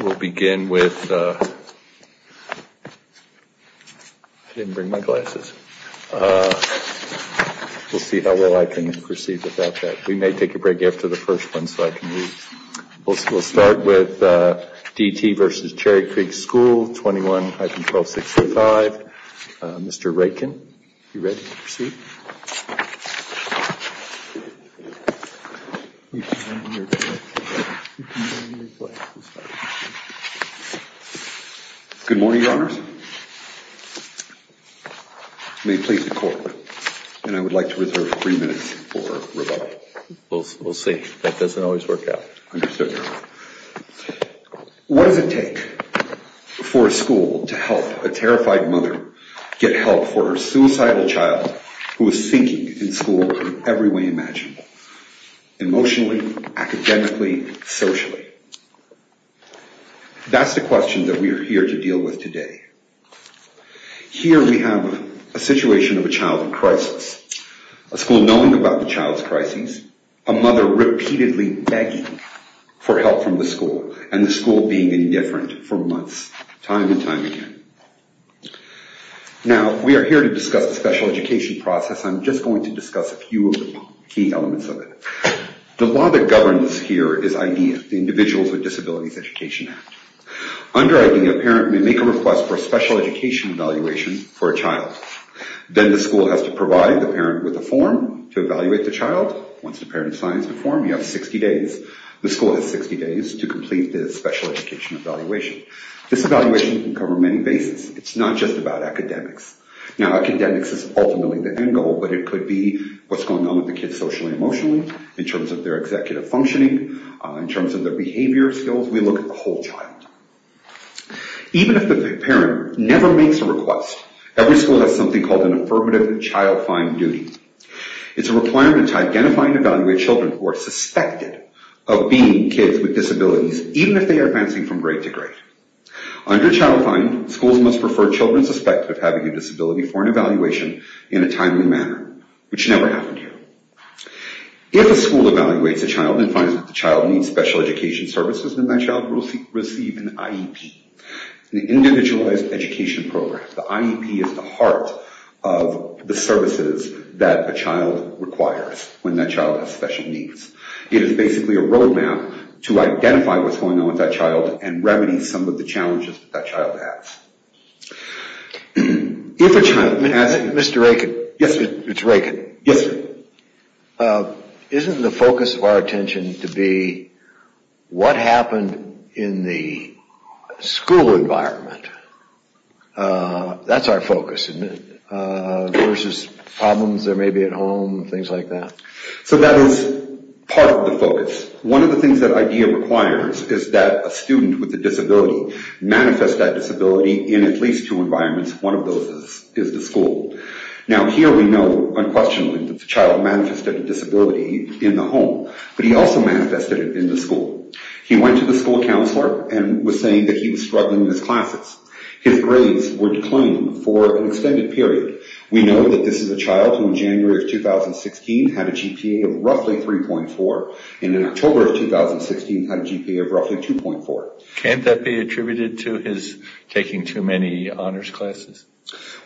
We'll begin with, I didn't bring my glasses, we'll see how well I can proceed without that. We may take a break after the first one so I can read. We'll start with D.T. v. Cherry Creek School, 21, High Control 605. Mr. Raykin, you ready to proceed? Good morning, Your Honors. May it please the Court, and I would like to reserve three minutes for rebuttal. We'll see. That doesn't always work out. Understood, Your Honor. What does it take for a school to help a terrified mother get help for her suicidal child who is sinking in school in every way imaginable? Emotionally, academically, socially. That's the question that we are here to deal with today. Here we have a situation of a childhood crisis. A school knowing about the child's crises, a mother repeatedly begging for help from the school, and the school being indifferent for months, time and time again. Now, we are here to discuss the special education process. I'm just going to discuss a few of the key elements of it. The law that governs here is IDEA, the Individuals with Disabilities Education Act. Under IDEA, a parent may make a request for a special education evaluation for a child. Then the school has to provide the parent with a form to evaluate the child. Once the parent signs the form, you have 60 days. The school has 60 days to complete the special education evaluation. This evaluation can cover many bases. It's not just about academics. Now, academics is ultimately the end goal, but it could be what's going on with the kids socially and emotionally, in terms of their executive functioning, in terms of their behavior skills. We look at the whole child. Even if the parent never makes a request, every school has something called an affirmative child-fine duty. It's a requirement to identify and evaluate children who are suspected of being kids with disabilities, even if they are advancing from grade to grade. Under child-fine, schools must refer children suspected of having a disability for an evaluation in a timely manner, which never happened here. If a school evaluates a child and finds that the child needs special education services, then that child will receive an IEP, an Individualized Education Program. The IEP is the heart of the services that a child requires when that child has special needs. It is basically a roadmap to identify what's going on with that child and remedy some of the challenges that that child has. If a child has a... Mr. Raikin. Yes, sir. It's Raikin. Yes, sir. Isn't the focus of our attention to be what happened in the school environment? That's our focus, isn't it? Versus problems there may be at home, things like that. So that is part of the focus. One of the things that IDEA requires is that a student with a disability manifest that disability in at least two environments. One of those is the school. Now, here we know unquestionably that the child manifested a disability in the home, but he also manifested it in the school. He went to the school counselor and was saying that he was struggling in his classes. His grades were declining for an extended period. We know that this is a child who in January of 2016 had a GPA of roughly 3.4 and in October of 2016 had a GPA of roughly 2.4. Can't that be attributed to his taking too many honors classes?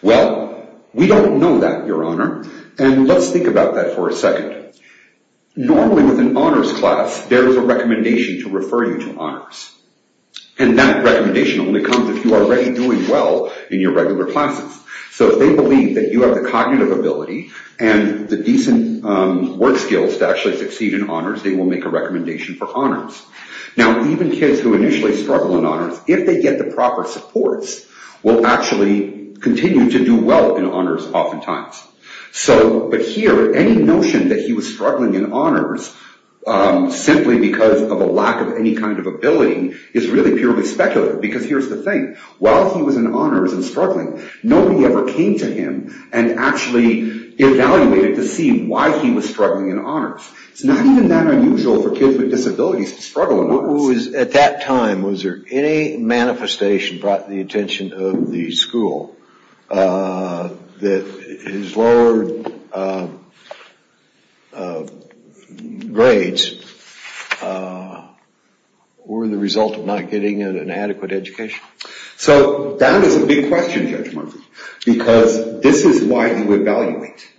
Well, we don't know that, Your Honor, and let's think about that for a second. Normally with an honors class, there is a recommendation to refer you to honors. And that recommendation only comes if you are already doing well in your regular classes. So if they believe that you have the cognitive ability and the decent work skills to actually succeed in honors, they will make a recommendation for honors. Now, even kids who initially struggle in honors, if they get the proper supports, will actually continue to do well in honors oftentimes. But here, any notion that he was struggling in honors simply because of a lack of any kind of ability is really purely speculative, because here's the thing. While he was in honors and struggling, nobody ever came to him and actually evaluated to see why he was struggling in honors. It's not even that unusual for kids with disabilities to struggle in honors. At that time, was there any manifestation brought to the attention of the school that his lower grades were the result of not getting an adequate education? So that is a big question, Judge Murphy, because this is why you evaluate.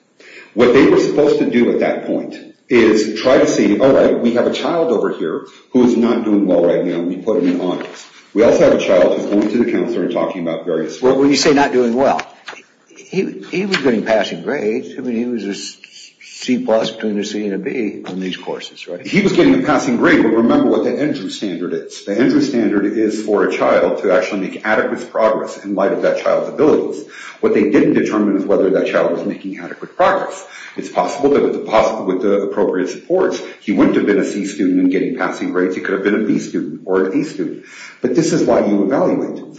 What they were supposed to do at that point is try to see, all right, we have a child over here who is not doing well right now, and we put him in honors. We also have a child who is going to the counselor and talking about various things. Well, when you say not doing well, he was getting passing grades. I mean, he was a C-plus between a C and a B on these courses, right? He was getting a passing grade, but remember what the Andrew standard is. The Andrew standard is for a child to actually make adequate progress in light of that child's abilities. What they didn't determine is whether that child was making adequate progress. It's possible that with the appropriate supports, he wouldn't have been a C student and getting passing grades. He could have been a B student or an A student. But this is why you evaluate.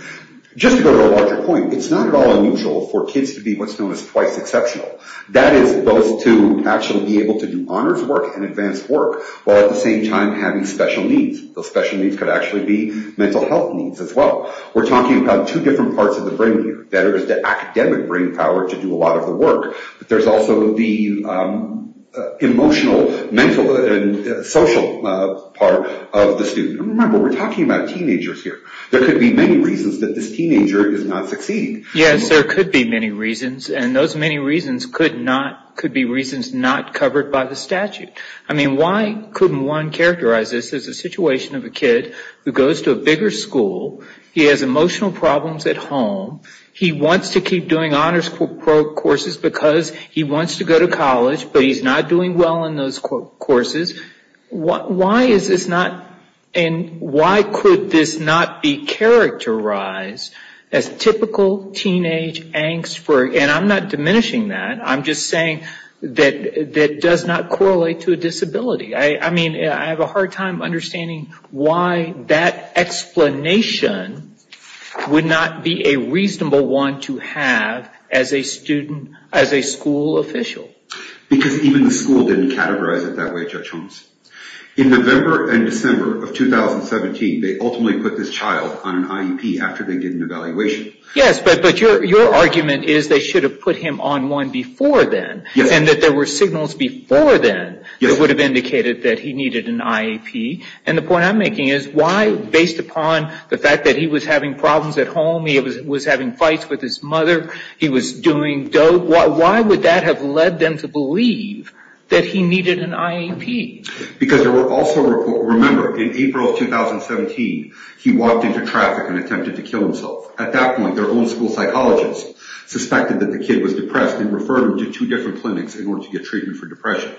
Just to go to a larger point, it's not at all unusual for kids to be what's known as twice exceptional. That is those to actually be able to do honors work and advanced work while at the same time having special needs. Those special needs could actually be mental health needs as well. We're talking about two different parts of the brain here. There is the academic brain power to do a lot of the work, but there's also the emotional, mental, and social part of the student. Remember, we're talking about teenagers here. There could be many reasons that this teenager is not succeeding. Yes, there could be many reasons, and those many reasons could be reasons not covered by the statute. Why couldn't one characterize this as a situation of a kid who goes to a bigger school. He has emotional problems at home. He wants to keep doing honors courses because he wants to go to college, but he's not doing well in those courses. Why is this not, and why could this not be characterized as typical teenage angst? I'm not diminishing that. I'm just saying that it does not correlate to a disability. I have a hard time understanding why that explanation would not be a reasonable one to have as a school official. Because even the school didn't categorize it that way, Judge Holmes. In November and December of 2017, they ultimately put this child on an IEP after they did an evaluation. Yes, but your argument is they should have put him on one before then. Yes. And that there were signals before then that would have indicated that he needed an IEP. And the point I'm making is why, based upon the fact that he was having problems at home, he was having fights with his mother, he was doing dope, why would that have led them to believe that he needed an IEP? Because there were also, remember, in April of 2017, he walked into traffic and attempted to kill himself. At that point, their own school psychologist suspected that the kid was depressed and referred him to two different clinics in order to get treatment for depression.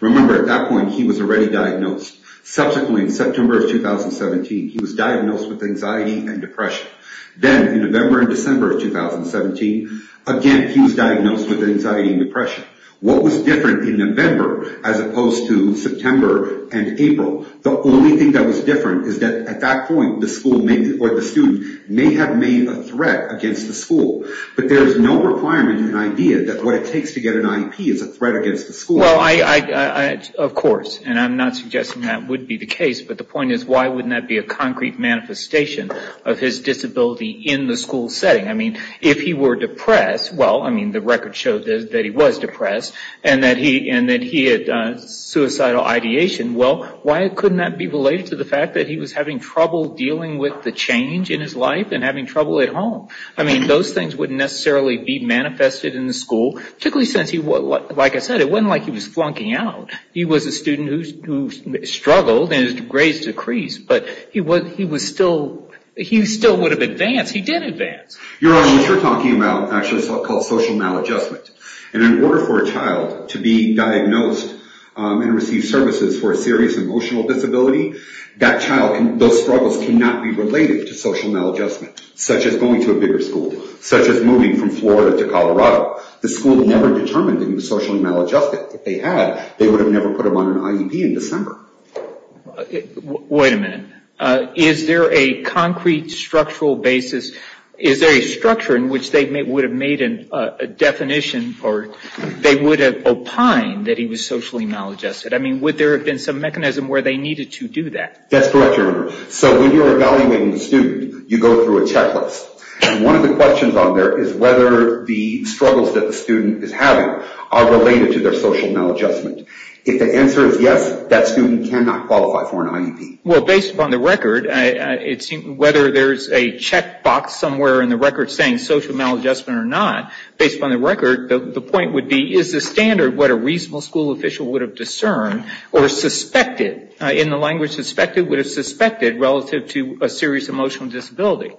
Remember, at that point, he was already diagnosed. Subsequently, in September of 2017, he was diagnosed with anxiety and depression. Then, in November and December of 2017, again, he was diagnosed with anxiety and depression. What was different in November as opposed to September and April? The only thing that was different is that, at that point, the school or the student may have made a threat against the school. But there is no requirement in IDEA that what it takes to get an IEP is a threat against the school. Well, of course, and I'm not suggesting that would be the case, but the point is, why wouldn't that be a concrete manifestation of his disability in the school setting? I mean, if he were depressed, well, I mean, the record showed that he was depressed and that he had suicidal ideation. Well, why couldn't that be related to the fact that he was having trouble dealing with the change in his life and having trouble at home? I mean, those things wouldn't necessarily be manifested in the school, particularly since, like I said, it wasn't like he was flunking out. He was a student who struggled and his grades decreased, but he still would have advanced. He did advance. Your Honor, what you're talking about actually is called social maladjustment. And in order for a child to be diagnosed and receive services for a serious emotional disability, that child, those struggles cannot be related to social maladjustment, such as going to a bigger school, such as moving from Florida to Colorado. The school never determined that he was socially maladjusted. If they had, they would have never put him on an IEP in December. Wait a minute. Is there a concrete structural basis, is there a structure in which they would have made a definition or they would have opined that he was socially maladjusted? I mean, would there have been some mechanism where they needed to do that? That's correct, Your Honor. So when you're evaluating a student, you go through a checklist. And one of the questions on there is whether the struggles that the student is having are related to their social maladjustment. If the answer is yes, that student cannot qualify for an IEP. Well, based upon the record, whether there's a checkbox somewhere in the record saying social maladjustment or not, based upon the record, the point would be, is the standard what a reasonable school official would have discerned or suspected, in the language suspected, would have suspected relative to a serious emotional disability?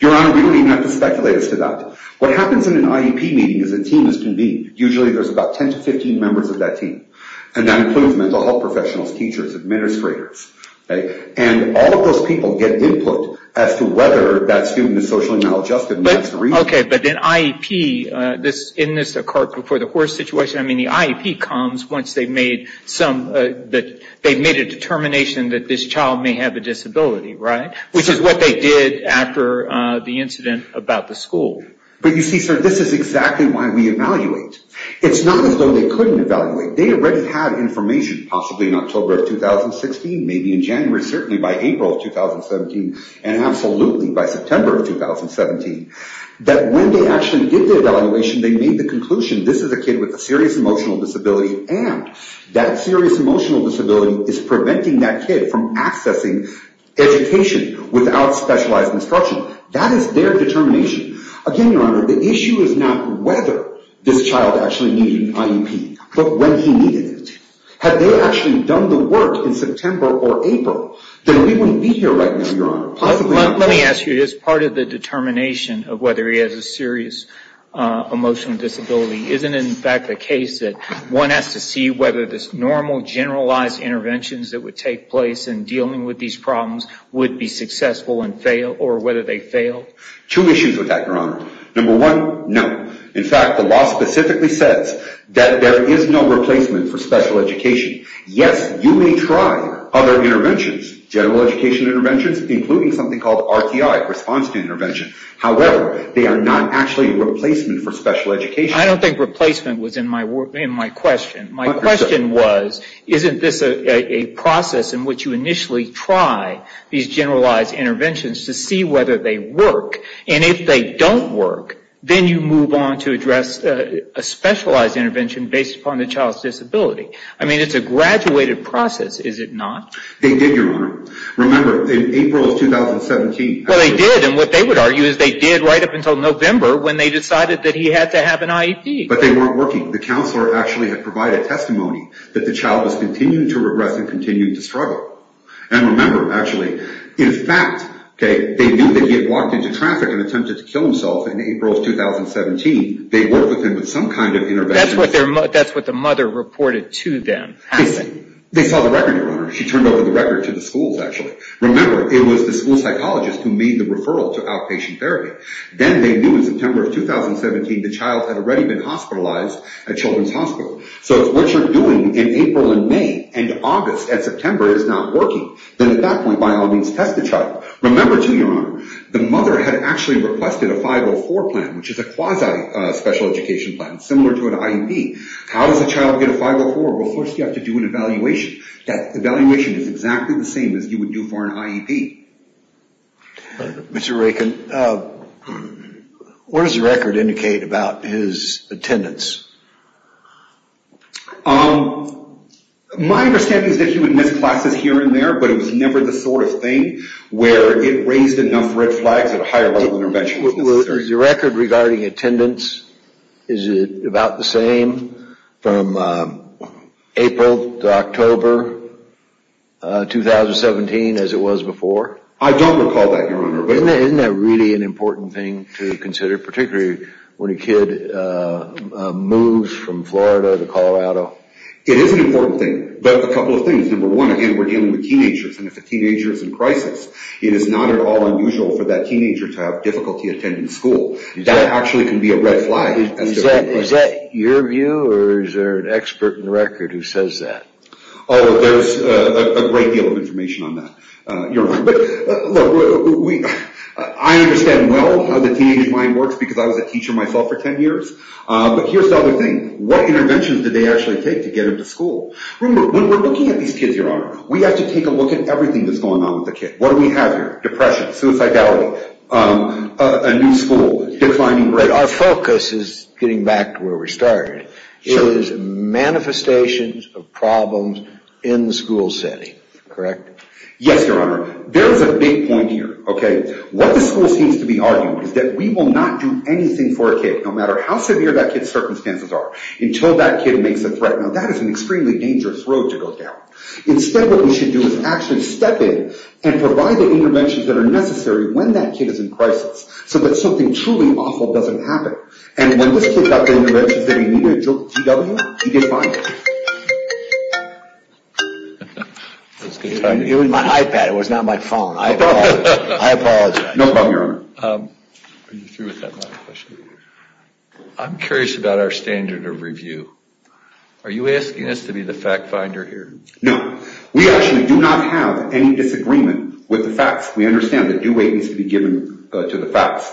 Your Honor, we don't even have to speculate as to that. What happens in an IEP meeting is a team is convened. Usually there's about 10 to 15 members of that team. And that includes mental health professionals, teachers, administrators. And all of those people get input as to whether that student is socially maladjusted and that's the reason. Okay, but then IEP, in this a cart before the horse situation, I mean, the IEP comes once they've made a determination that this child may have a disability, right? Which is what they did after the incident about the school. But you see, sir, this is exactly why we evaluate. It's not as though they couldn't evaluate. They already had information, possibly in October of 2016, maybe in January, certainly by April of 2017, and absolutely by September of 2017, that when they actually did the evaluation, they made the conclusion this is a kid with a serious emotional disability and that serious emotional disability is preventing that kid from accessing education without specialized instruction. That is their determination. Again, Your Honor, the issue is not whether this child actually needed an IEP, but when he needed it. Had they actually done the work in September or April, then we wouldn't be here right now, Your Honor. Let me ask you, as part of the determination of whether he has a serious emotional disability, isn't it in fact the case that one has to see whether this normal generalized interventions that would take place in dealing with these problems would be successful and fail or whether they failed? Two issues with that, Your Honor. Number one, no. In fact, the law specifically says that there is no replacement for special education. Yes, you may try other interventions, general education interventions, including something called RTI, response to intervention. However, they are not actually a replacement for special education. I don't think replacement was in my question. My question was, isn't this a process in which you initially try these generalized interventions to see whether they work, and if they don't work, then you move on to address a specialized intervention based upon the child's disability. I mean, it's a graduated process, is it not? They did, Your Honor. Remember, in April of 2017. Well, they did, and what they would argue is they did right up until November when they decided that he had to have an IEP. But they weren't working. The counselor actually had provided testimony that the child was continuing to regress and continuing to struggle. And remember, actually, in fact, they knew that he had walked into traffic and attempted to kill himself in April of 2017. They worked with him with some kind of intervention. That's what the mother reported to them. They saw the record, Your Honor. She turned over the record to the schools, actually. Remember, it was the school psychologist who made the referral to outpatient therapy. Then they knew in September of 2017 the child had already been hospitalized at Children's Hospital. So if what you're doing in April and May and August and September is not working, then at that point, by all means, test the child. Remember, too, Your Honor, the mother had actually requested a 504 plan, which is a quasi-special education plan, similar to an IEP. How does a child get a 504? Well, first you have to do an evaluation. Mr. Raykin, what does the record indicate about his attendance? My understanding is that he would miss classes here and there, but it was never the sort of thing where it raised enough red flags at a higher level of intervention. The record regarding attendance, is it about the same from April to October 2017 as it was before? I don't recall that, Your Honor. Isn't that really an important thing to consider, particularly when a kid moves from Florida to Colorado? It is an important thing, but a couple of things. Number one, again, we're dealing with teenagers, and if a teenager is in crisis, it is not at all unusual for that teenager to have difficulty attending school. That actually can be a red flag. Is that your view, or is there an expert in the record who says that? Oh, there's a great deal of information on that, Your Honor. But look, I understand well how the teenage mind works because I was a teacher myself for 10 years, but here's the other thing. What interventions did they actually take to get him to school? Remember, when we're looking at these kids, Your Honor, we have to take a look at everything that's going on with the kid. What do we have here? Depression, suicidality, a new school, declining grades. But our focus is getting back to where we started. It is manifestations of problems in the school setting, correct? Yes, Your Honor. There is a big point here. What the school seems to be arguing is that we will not do anything for a kid, no matter how severe that kid's circumstances are, until that kid makes a threat. Now, that is an extremely dangerous road to go down. Instead, what we should do is actually step in and provide the interventions that are necessary when that kid is in crisis so that something truly awful doesn't happen. And when this kid got the interventions that he needed, he didn't find it. It was my iPad, it was not my phone. I apologize. No problem, Your Honor. I'm curious about our standard of review. Are you asking us to be the fact finder here? No. We actually do not have any disagreement with the facts. We understand that due weight needs to be given to the facts.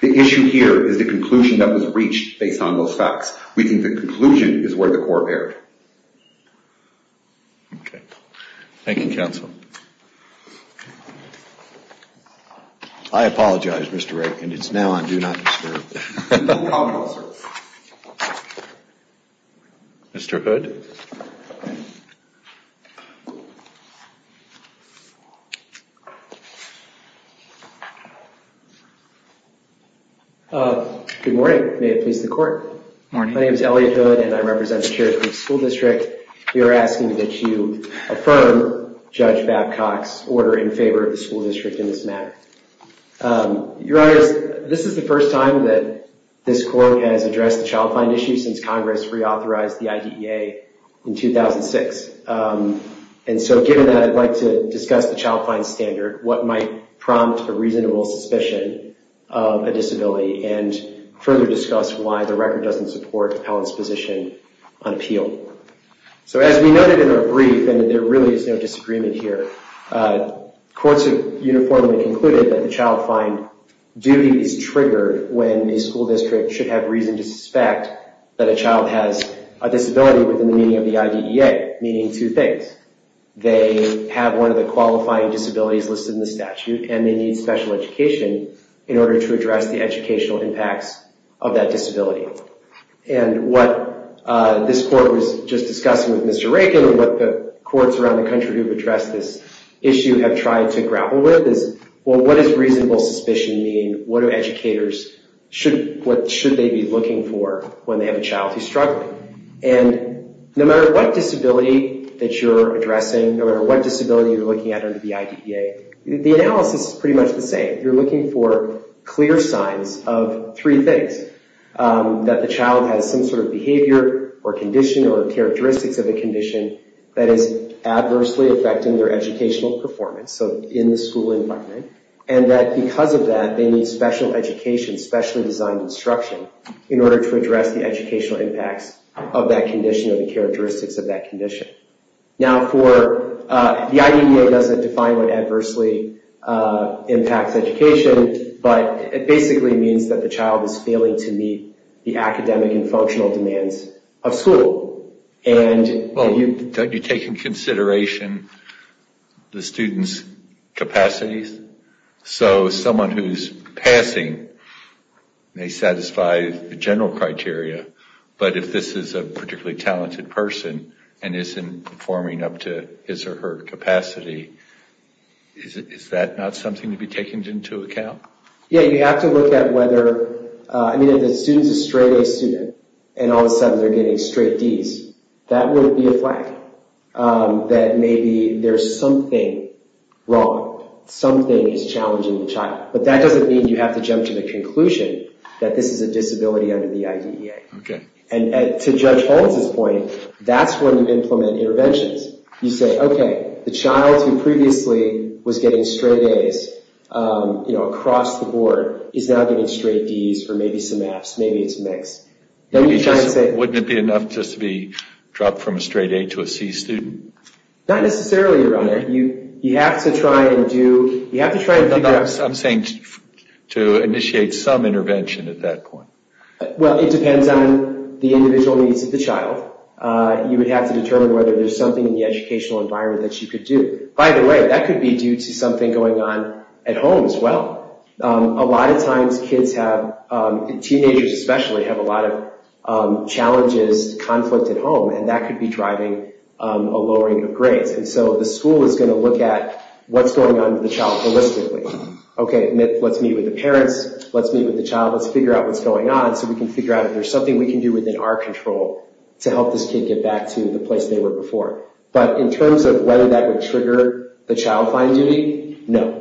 The issue here is the conclusion that was reached based on those facts. We think the conclusion is where the court erred. Okay. Thank you, counsel. I apologize, Mr. Rankin. It's now on do not disturb. Mr. Hood? Good morning. May it please the court? Morning. My name is Elliot Hood, and I represent the Cherokee School District. We are asking that you affirm Judge Babcock's order in favor of the school district in this matter. Your Honor, this is the first time that this court has addressed the child find issue since Congress reauthorized the IDEA in 2006. And so given that, I'd like to discuss the child find standard, what might prompt a reasonable suspicion of a disability, and further discuss why the record doesn't support Helen's position on appeal. So as we noted in our brief, and there really is no disagreement here, courts have uniformly concluded that the child find duty is triggered when a school district should have reason to suspect that a child has a disability within the meaning of the IDEA, meaning two things. They have one of the qualifying disabilities listed in the statute, and they need special education in order to address the educational impacts of that disability. And what this court was just discussing with Mr. Rankin and what the courts around the country who have addressed this issue have tried to grapple with is, well, what does reasonable suspicion mean? What do educators, what should they be looking for when they have a child who's struggling? And no matter what disability that you're addressing, no matter what disability you're looking at under the IDEA, the analysis is pretty much the same. You're looking for clear signs of three things, that the child has some sort of behavior or condition or characteristics of a condition that is adversely affecting their educational performance, so in the school environment, and that because of that, they need special education, specially designed instruction in order to address the educational impacts of that condition or the characteristics of that condition. Now, the IDEA doesn't define what adversely impacts education, but it basically means that the child is failing to meet the academic and functional demands of school. Well, you take into consideration the student's capacities, so someone who's passing may satisfy the general criteria, but if this is a particularly talented person and isn't performing up to his or her capacity, is that not something to be taken into account? Yeah, you have to look at whether... I mean, if the student's a straight-A student and all of a sudden they're getting straight Ds, that would be a flag, that maybe there's something wrong, something is challenging the child. But that doesn't mean you have to jump to the conclusion that this is a disability under the IDEA. Okay. And to Judge Holmes' point, that's when you implement interventions. You say, okay, the child who previously was getting straight As across the board is now getting straight Ds for maybe some Fs, maybe it's a mix. Wouldn't it be enough just to be dropped from a straight A to a C student? Not necessarily, Your Honor. You have to try and do... I'm saying to initiate some intervention at that point. Well, it depends on the individual needs of the child. You would have to determine whether there's something in the educational environment that you could do. By the way, that could be due to something going on at home as well. A lot of times kids have, teenagers especially, have a lot of challenges, conflict at home, and that could be driving a lowering of grades. And so the school is going to look at what's going on with the child holistically. Okay, let's meet with the parents, let's meet with the child, let's figure out what's going on so we can figure out if there's something we can do within our control to help this kid get back to the place they were before. But in terms of whether that would trigger the child find duty, no.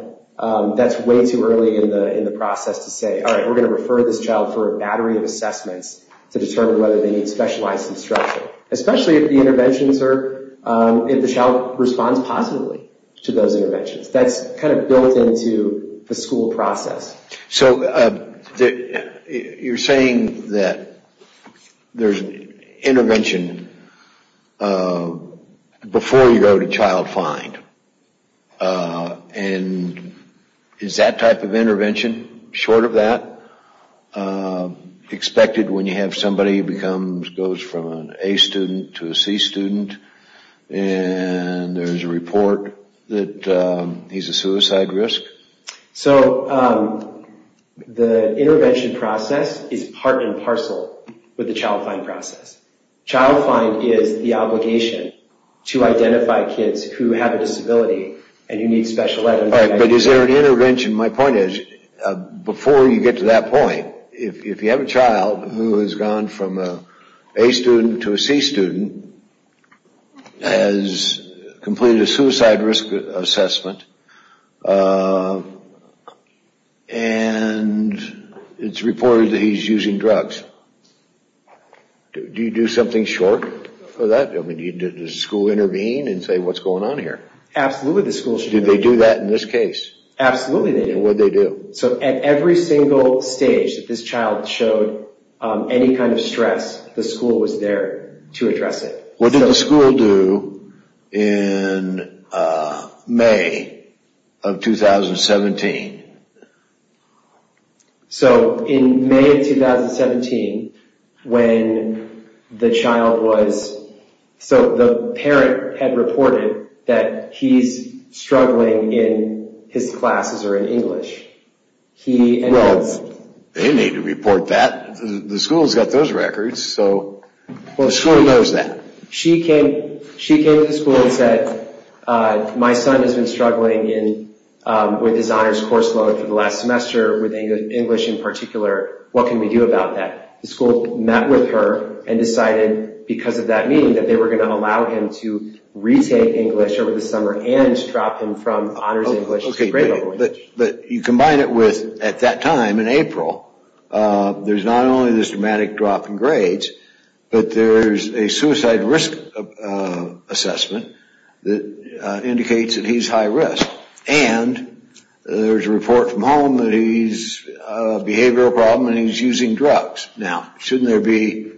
That's way too early in the process to say, all right, we're going to refer this child for a battery of assessments to determine whether they need specialized instruction. Especially if the interventions are, if the child responds positively to those interventions. That's kind of built into the school process. So you're saying that there's intervention before you go to child find. And is that type of intervention, short of that, expected when you have somebody who goes from an A student to a C student and there's a report that he's a suicide risk? So the intervention process is part and parcel with the child find process. Child find is the obligation to identify kids who have a disability and who need special education. But is there an intervention? My point is, before you get to that point, if you have a child who has gone from an A student to a C student, has completed a suicide risk assessment, and it's reported that he's using drugs, do you do something short for that? Does the school intervene and say, what's going on here? Absolutely the school should intervene. Did they do that in this case? Absolutely they did. And what did they do? So at every single stage that this child showed any kind of stress, the school was there to address it. What did the school do in May of 2017? So in May of 2017, when the child was, so the parent had reported that he's struggling in his classes or in English. Well, they need to report that. The school's got those records, so the school knows that. She came to the school and said, my son has been struggling with his honors course load for the last semester, with English in particular. What can we do about that? The school met with her and decided, because of that meeting, that they were going to allow him to retake English over the summer and drop him from honors English to grade level English. But you combine it with, at that time in April, there's not only this dramatic drop in grades, but there's a suicide risk assessment that indicates that he's high risk. And there's a report from home that he's a behavioral problem and he's using drugs. Now, shouldn't there be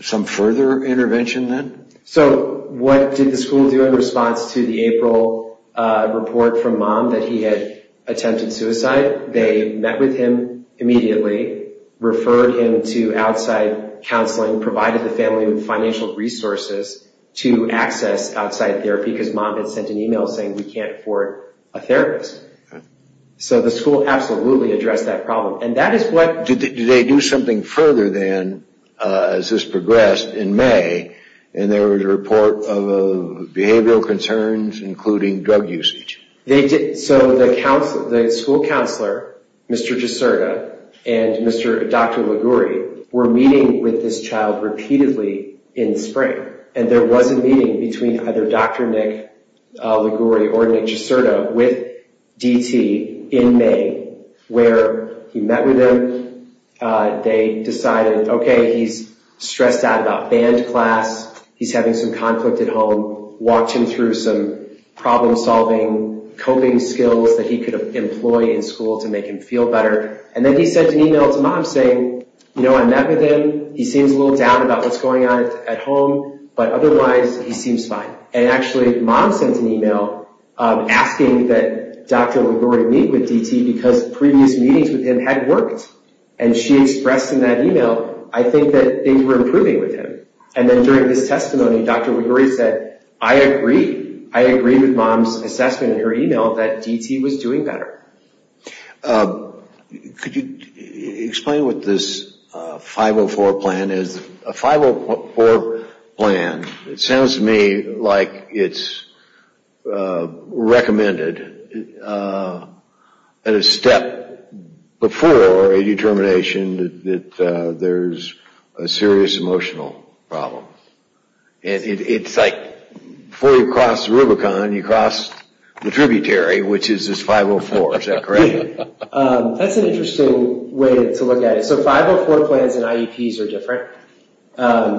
some further intervention then? So what did the school do in response to the April report from Mom that he had attempted suicide? They met with him immediately, referred him to outside counseling, provided the family with financial resources to access outside therapy, because Mom had sent an email saying we can't afford a therapist. So the school absolutely addressed that problem. Do they do something further then, as this progressed in May, and there was a report of behavioral concerns, including drug usage? They did. So the school counselor, Mr. Giserta, and Dr. Liguri, were meeting with this child repeatedly in the spring. And there was a meeting between either Dr. Nick Liguri or Nick Giserta with DT in May, where he met with them. They decided, okay, he's stressed out about band class, he's having some conflict at home, walked him through some problem-solving coping skills that he could employ in school to make him feel better. And then he sent an email to Mom saying, you know, I met with him, he seems a little down about what's going on at home, but otherwise he seems fine. And actually Mom sent an email asking that Dr. Liguri meet with DT because previous meetings with him had worked. And she expressed in that email, I think that things were improving with him. And then during this testimony, Dr. Liguri said, I agree. I agree with Mom's assessment in her email that DT was doing better. Could you explain what this 504 plan is? A 504 plan, it sounds to me like it's recommended at a step before a determination that there's a serious emotional problem. It's like before you cross Rubicon, you cross the tributary, which is this 504. Is that correct? That's an interesting way to look at it. So 504 plans and IEPs are different.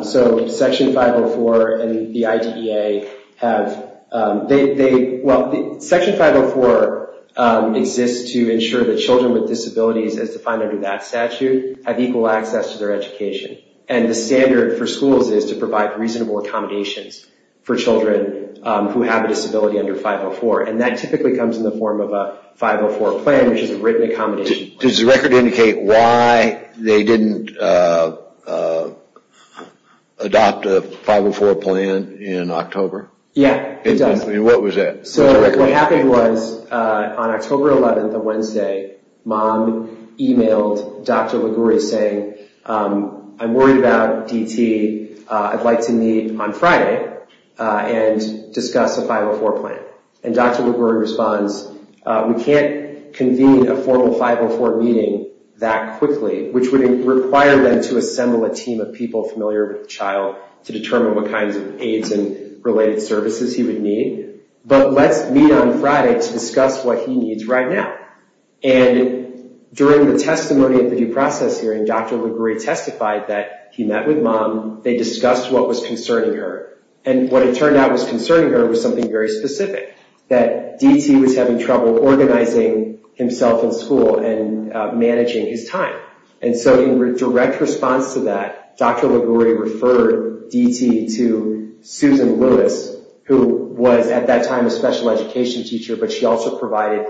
So Section 504 and the IDEA have, they, well, Section 504 exists to ensure that children with disabilities as defined under that statute have equal access to their education. And the standard for schools is to provide reasonable accommodations for children who have a disability under 504. And that typically comes in the form of a 504 plan, which is a written accommodation. Does the record indicate why they didn't adopt a 504 plan in October? Yeah, it does. What was that? So what happened was on October 11th, a Wednesday, Mom emailed Dr. Liguri saying, I'm worried about DT. I'd like to meet on Friday and discuss a 504 plan. And Dr. Liguri responds, we can't convene a formal 504 meeting that quickly, which would require them to assemble a team of people familiar with the child to determine what kinds of aids and related services he would need. But let's meet on Friday to discuss what he needs right now. And during the testimony at the due process hearing, Dr. Liguri testified that he met with Mom. They discussed what was concerning her. And what it turned out was concerning her was something very specific, that DT was having trouble organizing himself in school and managing his time. And so in direct response to that, Dr. Liguri referred DT to Susan Lewis, who was at that time a special education teacher, but she also provided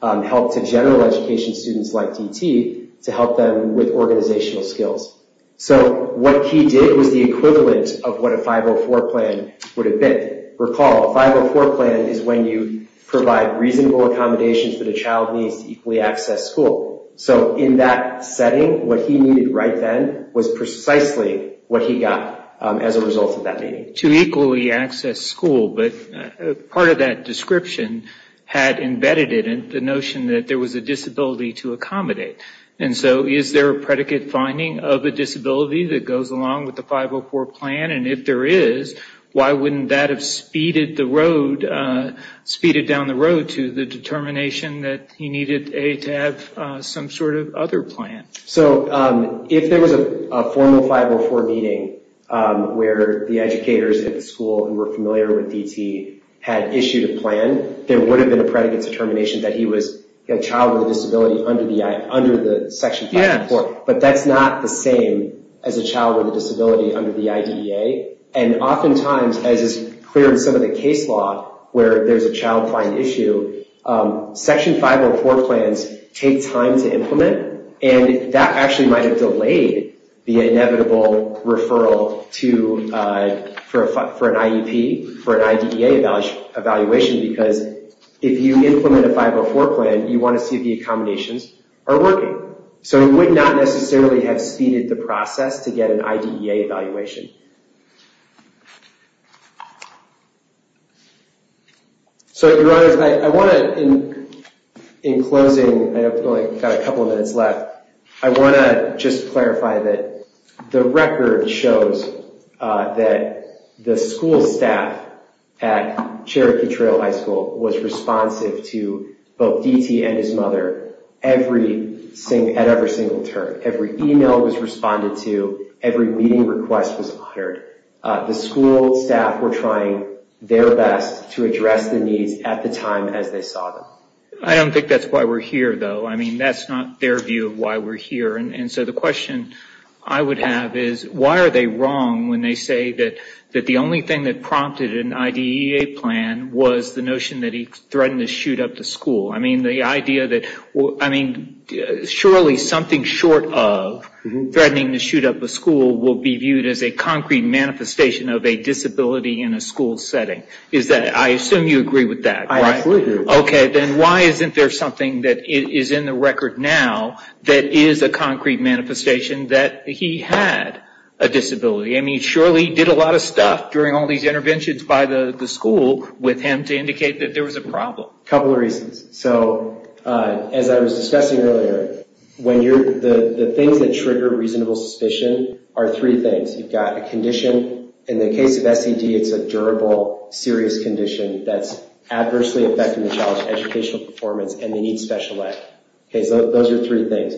help to general education students like DT to help them with organizational skills. So what he did was the equivalent of what a 504 plan would have been. Recall, a 504 plan is when you provide reasonable accommodations that a child needs to equally access school. So in that setting, what he needed right then was precisely what he got as a result of that meeting. To equally access school, but part of that description had embedded it in the notion that there was a disability to accommodate. And so is there a predicate finding of a disability that goes along with the 504 plan? And if there is, why wouldn't that have speeded down the road to the determination that he needed to have some sort of other plan? So if there was a formal 504 meeting where the educators at the school who were familiar with DT had issued a plan, there would have been a predicate determination that he was a child with a disability under the section 504. But that's not the same as a child with a disability under the IDEA. And oftentimes, as is clear in some of the case law where there's a child find issue, section 504 plans take time to implement and that actually might have delayed the inevitable referral for an IEP, for an IDEA evaluation because if you implement a 504 plan, you want to see if the accommodations are working. So it would not necessarily have speeded the process to get an IDEA evaluation. So, Your Honors, I want to, in closing, I've only got a couple of minutes left, I want to just clarify that the record shows that the school staff at Cherokee Trail High School was responsive to both DT and his mother at every single turn. Every email was responded to. Every meeting request was honored. The school staff were trying their best to address the needs at the time as they saw them. I don't think that's why we're here, though. I mean, that's not their view of why we're here. And so the question I would have is, why are they wrong when they say that the only thing that prompted an IDEA plan was the notion that he threatened to shoot up the school? I mean, surely something short of threatening to shoot up the school will be viewed as a concrete manifestation of a disability in a school setting. I assume you agree with that, right? I absolutely agree. Okay, then why isn't there something that is in the record now that is a concrete manifestation that he had a disability? I mean, surely he did a lot of stuff during all these interventions by the school with him to indicate that there was a problem. A couple of reasons. So as I was discussing earlier, the things that trigger reasonable suspicion are three things. You've got a condition. In the case of SED, it's a durable, serious condition that's adversely affecting the child's educational performance, and they need special ed. Okay, so those are three things.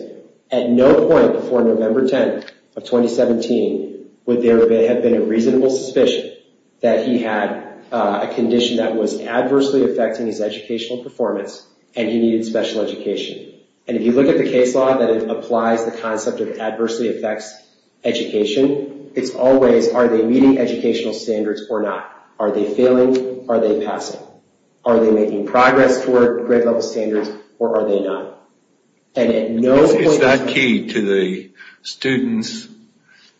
At no point before November 10th of 2017 would there have been a reasonable suspicion that he had a condition that was adversely affecting his educational performance and he needed special education. And if you look at the case law, that it applies the concept of adversely affects education, it's always are they meeting educational standards or not? Are they failing? Are they passing? Are they making progress toward grade-level standards, or are they not? Is that key to the student's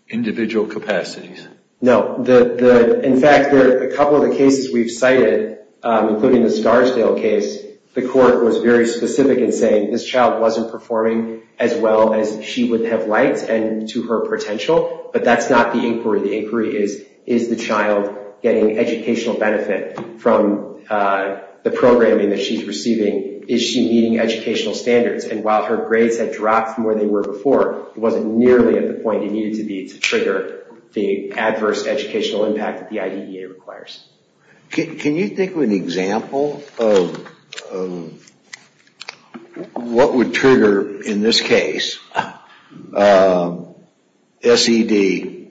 individual capacities? No. In fact, a couple of the cases we've cited, including the Scarsdale case, the court was very specific in saying this child wasn't performing as well as she would have liked and to her potential, but that's not the inquiry. The inquiry is, is the child getting educational benefit from the programming that she's receiving? Is she meeting educational standards? And while her grades had dropped from where they were before, it wasn't nearly at the point it needed to be to trigger the adverse educational impact that the IDEA requires. Can you think of an example of what would trigger, in this case, SED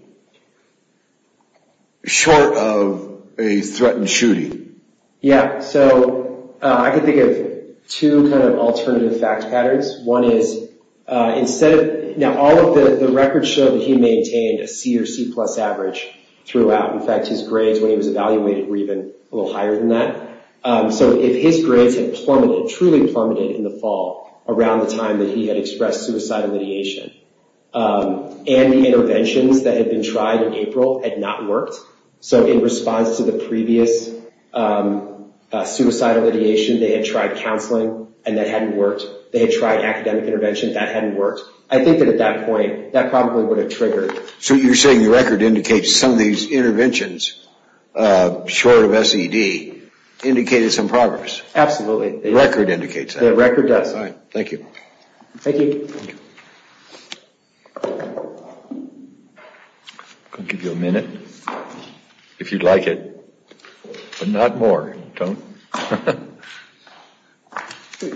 short of a threatened shooting? Yeah, so I can think of two kind of alternative fact patterns. One is, instead of, now all of the records show that he maintained a C or C-plus average throughout. In fact, his grades when he was evaluated were even a little higher than that. So if his grades had plummeted, truly plummeted in the fall, around the time that he had expressed suicidal ideation, and the interventions that had been tried in April had not worked, so in response to the previous suicidal ideation, they had tried counseling and that hadn't worked. They had tried academic interventions that hadn't worked. I think that at that point, that probably would have triggered. So you're saying the record indicates some of these interventions, short of SED, indicated some progress? Absolutely. The record indicates that? The record does. All right, thank you. Thank you. I'll give you a minute, if you'd like it, but not more. Don't.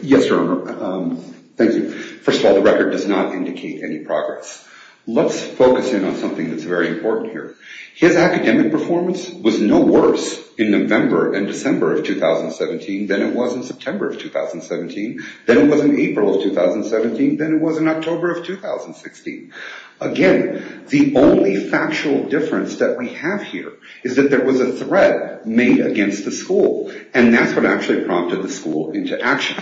Yes, sir. Thank you. First of all, the record does not indicate any progress. Let's focus in on something that's very important here. His academic performance was no worse in November and December of 2017 than it was in September of 2017, than it was in April of 2017, than it was in October of 2016. Again, the only factual difference that we have here is that there was a threat made against the school, and that's what actually prompted the school into action.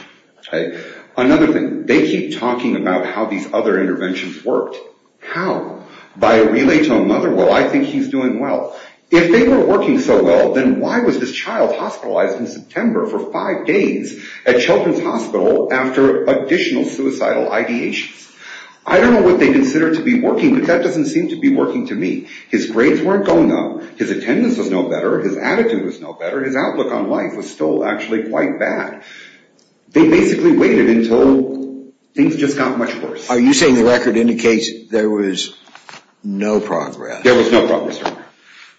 Another thing, they keep talking about how these other interventions worked. How? By a relay to a mother? Well, I think he's doing well. If they were working so well, then why was this child hospitalized in September for five days at Children's Hospital after additional suicidal ideations? I don't know what they consider to be working, but that doesn't seem to be working to me. His grades weren't going up. His attendance was no better. His attitude was no better. His outlook on life was still actually quite bad. They basically waited until things just got much worse. Are you saying the record indicates there was no progress? There was no progress, Your Honor.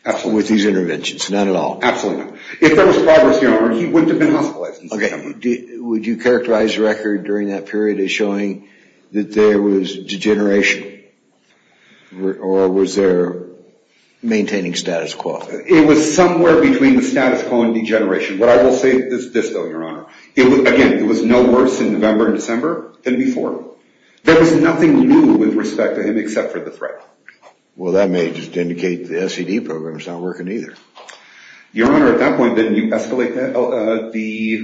Absolutely. With these interventions? None at all? Absolutely not. If there was progress, Your Honor, he wouldn't have been hospitalized in September. Okay. Would you characterize the record during that period as showing that there was degeneration, or was there maintaining status quo? It was somewhere between the status quo and degeneration. But I will say this, though, Your Honor. Again, it was no worse in November and December than before. There was nothing new with respect to him except for the threat. Well, that may just indicate the SED program is not working either. Your Honor, at that point, didn't you escalate the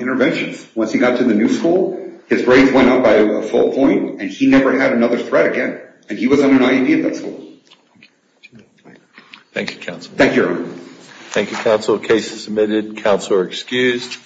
interventions? Once he got to the new school, his grades went up by a full point, and he never had another threat again. And he was on an IEP at that school. Thank you, counsel. Thank you, Your Honor. Thank you, counsel. The case is submitted. Counsel are excused.